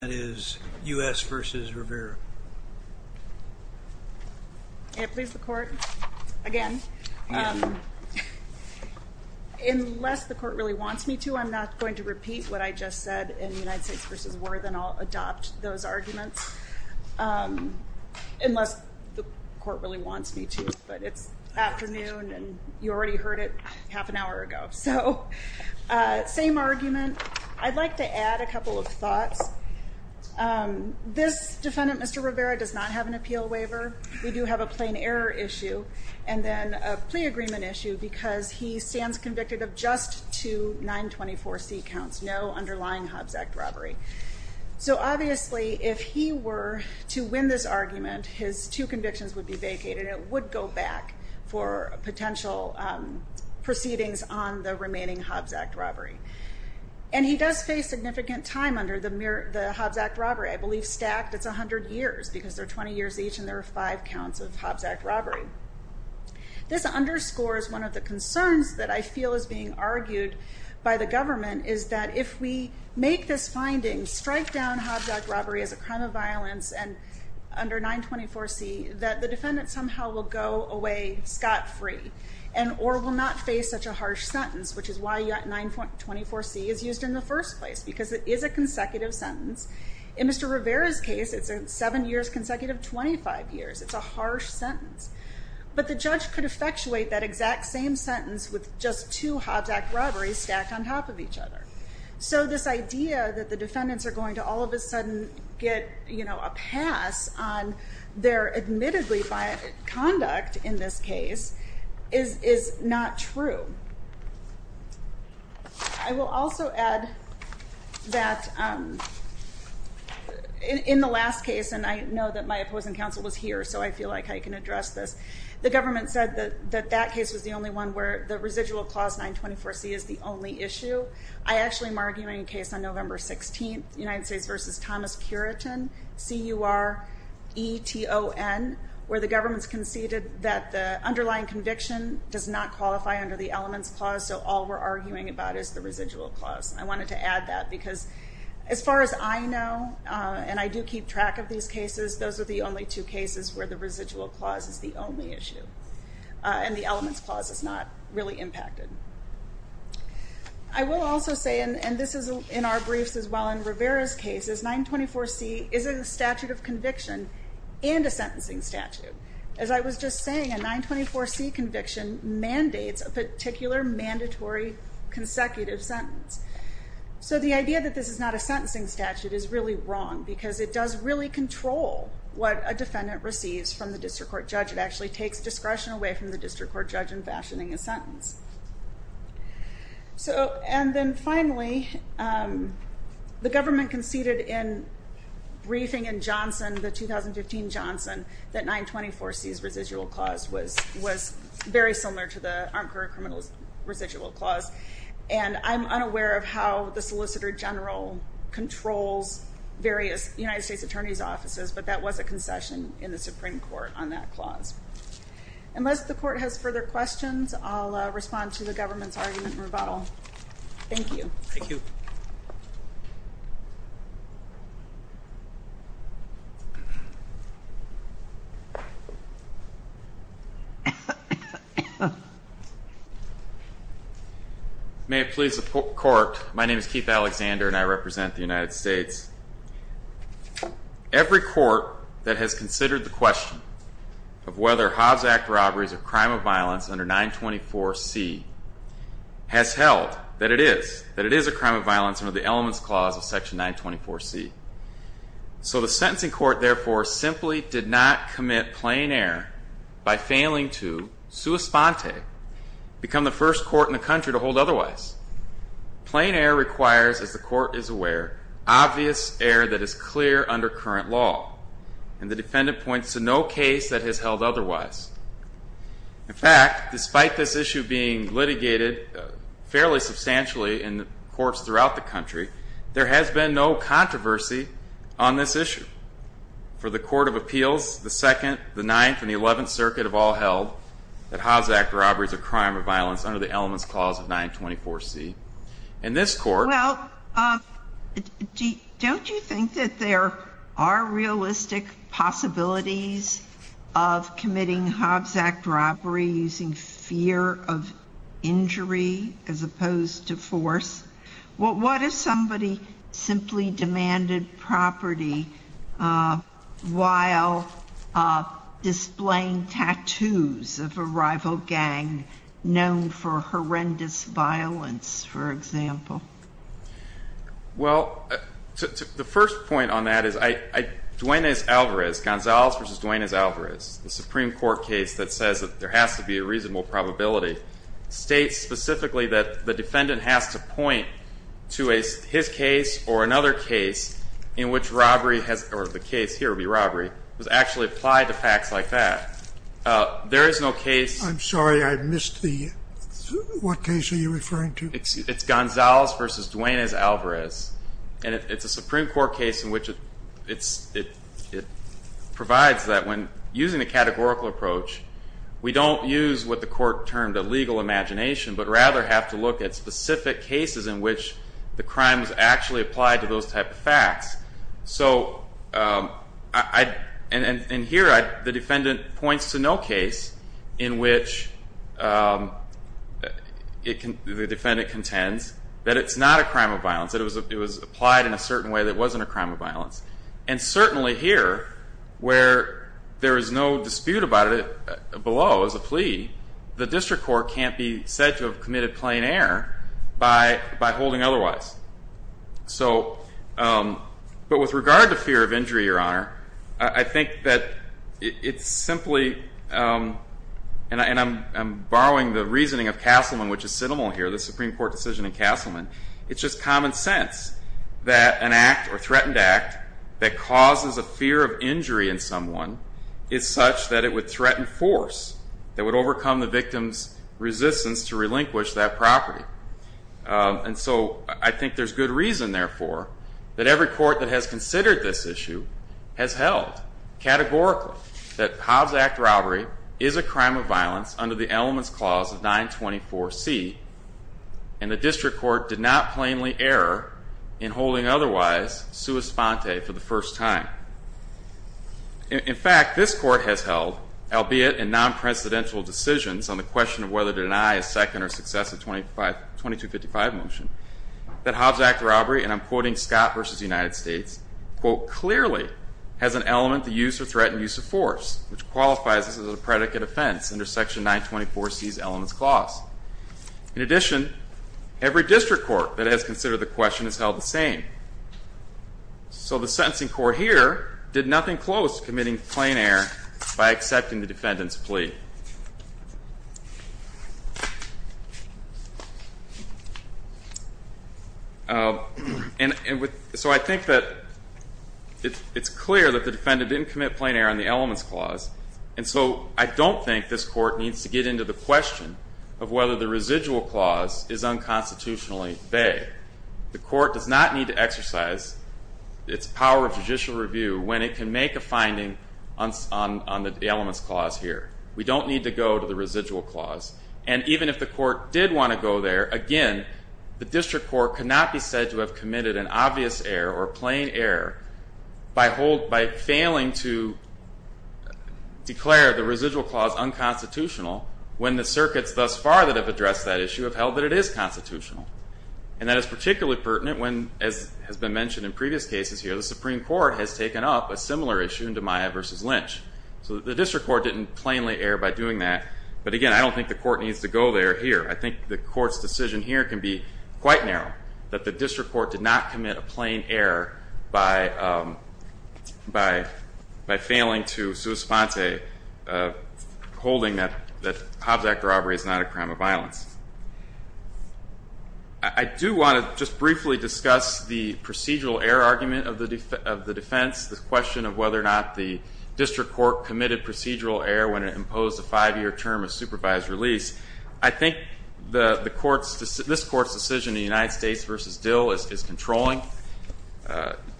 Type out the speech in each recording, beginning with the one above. That is U.S. v. Rivera. May it please the court, again, unless the court really wants me to, I'm not going to repeat what I just said in United States v. Worth and I'll adopt those arguments, unless the court really wants me to, but it's afternoon and you already heard it half an hour ago. So, same argument. I'd like to add a couple of thoughts. This defendant, Mr. Rivera, does not have an appeal waiver. We do have a plain error issue and then a plea agreement issue because he stands convicted of just two 924C counts, no underlying Hobbs Act robbery. So, obviously, if he were to win this argument, his two convictions would be vacated and it would go back for potential proceedings on the remaining Hobbs Act robbery. And he does face significant time under the Hobbs Act robbery. I believe stacked, it's 100 years because there are 20 years each and there are five counts of Hobbs Act robbery. This underscores one of the concerns that I feel is being argued by the government is that if we make this finding, strike down Hobbs Act robbery as a crime of violence and under 924C, that the defendant somehow will go away scot-free and or will not face such a harsh sentence, which is why 924C is used in the first place because it is a consecutive sentence. In Mr. Rivera's case, it's seven years consecutive, 25 years. It's a harsh sentence. But the judge could effectuate that exact same sentence with just two Hobbs Act robberies stacked on top of each other. So, this idea that the defendants are going to all of a sudden get a pass on their admittedly violent conduct in this case is not true. I will also add that in the last case, and I know that my opposing counsel was here, so I feel like I can address this. The government said that that case was the only one where the residual clause 924C is the only issue. I actually am arguing a case on November 16th, United States v. Thomas Cureton, C-U-R-E-T-O-N, where the government's conceded that the underlying conviction does not qualify under the elements clause, so all we're arguing about is the residual clause. I wanted to add that because as far as I know, and I do keep track of these cases, those are the only two cases where the residual clause is the only issue and the elements clause is not really impacted. I will also say, and this is in our briefs as well in Rivera's case, is 924C is a statute of conviction and a sentencing statute. As I was just saying, a 924C conviction mandates a particular mandatory consecutive sentence. So, the idea that this is not a sentencing statute is really wrong because it does really control what a defendant receives from the district court judge. It actually takes discretion away from the district court judge in fashioning a sentence. So, and then finally, the government conceded in briefing in Johnson, the 2015 Johnson, that 924C's residual clause was very similar to the Armed Career Criminals residual clause. And I'm unaware of how the Solicitor General controls various United States Attorney's Offices, but that was a concession in the Supreme Court on that clause. Unless the court has further questions, I'll respond to the government's argument and rebuttal. Thank you. Thank you. May it please the court, my name is Keith Alexander and I represent the United States. Every court that has considered the question of whether Hobbs Act robberies are a crime of violence under 924C has held that it is. That it is a crime of violence under the Elements Clause of Section 924C. So, the sentencing court, therefore, simply did not commit plain error by failing to, sua sponte, become the first court in the country to hold otherwise. Plain error requires, as the court is aware, obvious error that is clear under current law. And the defendant points to no case that has held otherwise. In fact, despite this issue being litigated fairly substantially in courts throughout the country, there has been no controversy on this issue. For the Court of Appeals, the Second, the Ninth, and the Eleventh Circuit have all held that Hobbs Act robberies are a crime of violence under the Elements Clause of 924C. In this court... Well, don't you think that there are realistic possibilities of committing Hobbs Act robbery using fear of injury as opposed to force? Well, what if somebody simply demanded property while displaying tattoos of a rival gang known for horrendous violence, for example? Well, the first point on that is, Duane S. Alvarez, Gonzalez v. Duane S. Alvarez, the Supreme Court case that says that there has to be a reasonable probability, states specifically that the defendant has to point to his case or another case in which robbery has, or the case here would be robbery, was actually applied to facts like that. There is no case... I'm sorry. I missed the... What case are you referring to? It's Gonzalez v. Duane S. Alvarez. And it's a Supreme Court case in which it provides that when using a categorical approach, we don't use what the court termed a legal imagination, but rather have to look at specific cases in which the crime was actually applied to those type of facts. And here, the defendant points to no case in which the defendant contends that it's not a crime of violence, that it was applied in a certain way that it wasn't a crime of violence. And certainly here, where there is no dispute about it below as a plea, the district court can't be said to have committed plain error by holding otherwise. So, but with regard to fear of injury, Your Honor, I think that it's simply, and I'm borrowing the reasoning of Castleman, which is synonymal here, the Supreme Court decision in Castleman, it's just common sense that an act or threatened act that causes a fear of injury in someone is such that it would threaten force that would overcome the victim's resistance to relinquish that property. And so, I think there's good reason, therefore, that every court that has considered this issue has held categorically that Hobbs Act robbery is a crime of violence under the elements clause of 924C, and the district court did not plainly error in holding otherwise sua sponte for the first time. In fact, this court has held, albeit in non-presidential decisions on the question of whether to deny a second or successive 2255 motion, that Hobbs Act robbery, and I'm quoting Scott versus the United States, quote, clearly has an element to use or threaten use of force, which qualifies this as a predicate offense under section 924C's elements clause. In addition, every district court that has considered the question has held the same. So the sentencing court here did nothing close to committing plain error by accepting the defendant's plea. So I think that it's clear that the defendant didn't commit plain error on the elements clause, and so I don't think this court needs to get into the question of whether the residual clause is unconstitutionally vague. The court does not need to exercise its power of judicial review when it can make a finding on the elements clause here. We don't need to go to the residual clause. And even if the court did want to go there, again, the district court cannot be said to have committed an obvious error or plain error by failing to declare the residual clause unconstitutional when the circuits thus far that have addressed that issue have held that it is constitutional. And that is particularly pertinent when, as has been mentioned in previous cases here, the Supreme Court has taken up a similar issue in DiMaio v. Lynch. So the district court didn't plainly err by doing that. But again, I don't think the court needs to go there here. I think the court's decision here can be quite narrow, that the district court did not commit a plain error by failing to souspense a holding that Hobbs Act robbery is not a crime of violence. I do want to just briefly discuss the procedural error argument of the defense, the question of whether or not the district court committed procedural error when it imposed a five-year term of supervised release. I think this court's decision in the United States v. Dill is controlling.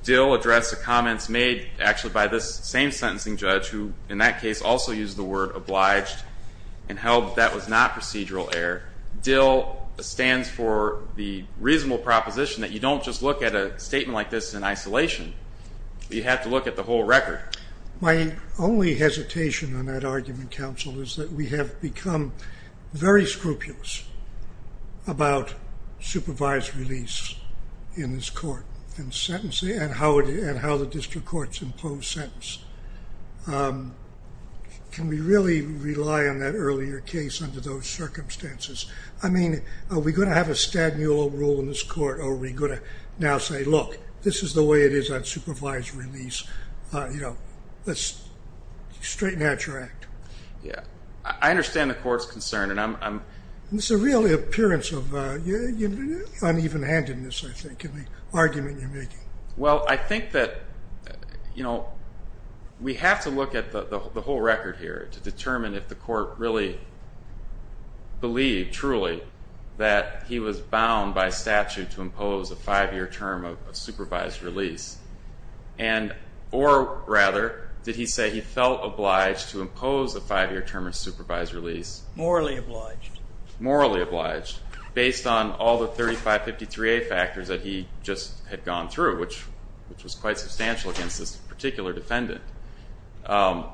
Dill addressed the comments made actually by this same sentencing judge, who in that case also used the word obliged and held that was not procedural error. Dill stands for the reasonable proposition that you don't just look at a statement like this in isolation. You have to look at the whole record. My only hesitation on that argument, counsel, is that we have become very scrupulous about supervised release in this court and how the district court's imposed sentence. Can we really rely on that earlier case under those circumstances? I mean, are we going to have a Stadmuller rule in this court or are we going to now say, look, this is the way it is on supervised release. You know, let's straighten out your act. Yeah. I understand the court's concern, and I'm... It's a real appearance of uneven handedness, I think, in the argument you're making. Well, I think that, you know, we have to look at the whole record here to determine if the court really believed truly that he was bound by statute to impose a five-year term of supervised release. And, or rather, did he say he felt obliged to impose a five-year term of supervised release? Morally obliged. Morally obliged, based on all the 3553A factors that he just had gone through, which was quite substantial against this particular defendant. And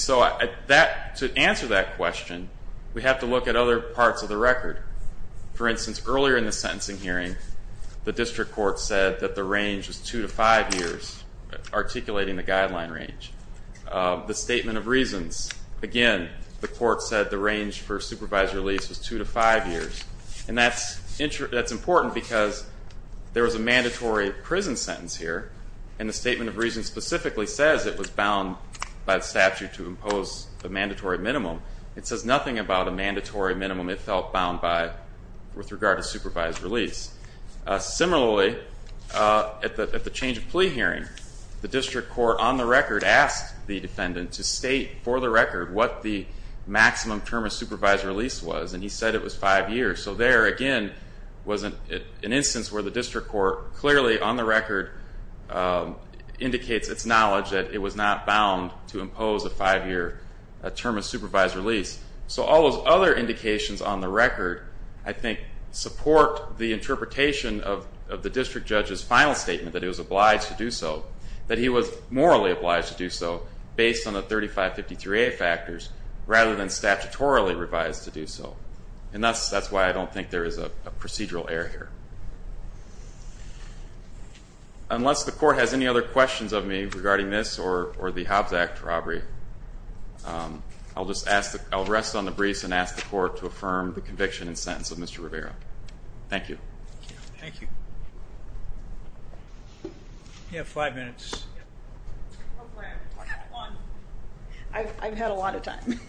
so to answer that question, we have to look at other parts of the record. For instance, earlier in the sentencing hearing, the district court said that the range was two to five years, articulating the guideline range. The statement of reasons, again, the court said the range for supervised release was two to five years. And that's important because there was a mandatory prison sentence here, and the statement of reasons specifically says it was bound by the statute to impose a mandatory minimum. It says nothing about a mandatory minimum it felt bound by with regard to supervised release. Similarly, at the change of plea hearing, the district court, on the record, asked the defendant to state for the record what the maximum term of supervised release was, and he said it was five years. So there, again, was an instance where the district court clearly, on the record, indicates its knowledge that it was not bound to impose a five-year term of supervised release. So all those other indications on the record, I think, support the interpretation of the district judge's final statement, that he was obliged to do so, that he was morally obliged to do so, based on the 3553A factors, rather than statutorily revised to do so. And that's why I don't think there is a procedural error here. Unless the court has any other questions of me regarding this or the Hobbs Act robbery, I'll rest on the briefs and ask the court to affirm the conviction and sentence of Mr. Rivera. Thank you. Thank you. You have five minutes. I've had a lot of time.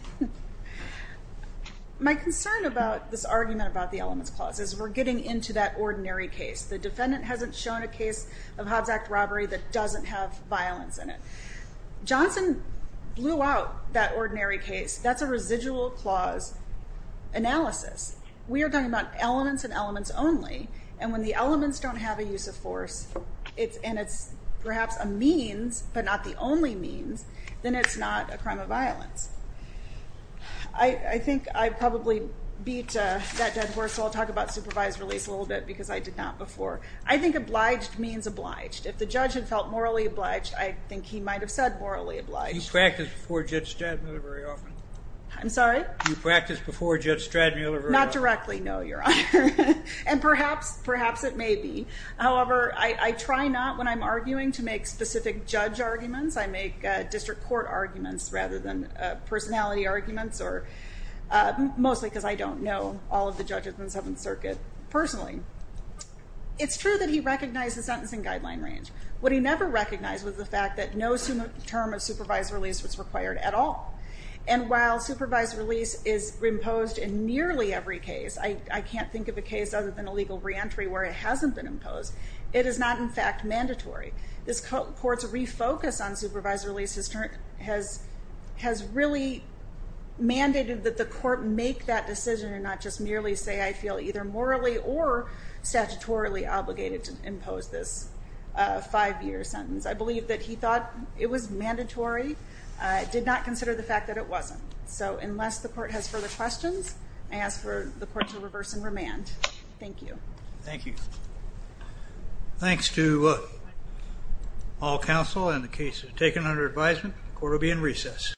My concern about this argument about the elements clause is we're getting into that ordinary case. The defendant hasn't shown a case of Hobbs Act robbery that doesn't have violence in it. Johnson blew out that ordinary case. That's a residual clause analysis. We are talking about elements and elements only. And when the elements don't have a use of force, and it's perhaps a means but not the only means, then it's not a crime of violence. I think I probably beat that dead horse. I'll talk about supervised release a little bit because I did not before. I think obliged means obliged. If the judge had felt morally obliged, I think he might have said morally obliged. You practice before Judge Stradmiller very often. I'm sorry? You practice before Judge Stradmiller very often. Not directly, no, Your Honor. And perhaps it may be. However, I try not, when I'm arguing, to make specific judge arguments. I make district court arguments rather than personality arguments, mostly because I don't know all of the judges in the Seventh Circuit personally. It's true that he recognized the sentencing guideline range. What he never recognized was the fact that no term of supervised release was required at all. And while supervised release is imposed in nearly every case, I can't think of a case other than a legal reentry where it hasn't been imposed, it is not, in fact, mandatory. This court's refocus on supervised release has really mandated that the court make that decision and not just merely say I feel either morally or statutorily obligated to impose this five-year sentence. I believe that he thought it was mandatory, did not consider the fact that it wasn't. So unless the court has further questions, I ask for the court to reverse and remand. Thank you. Thank you. Thanks to all counsel and the cases taken under advisement. The court will be in recess.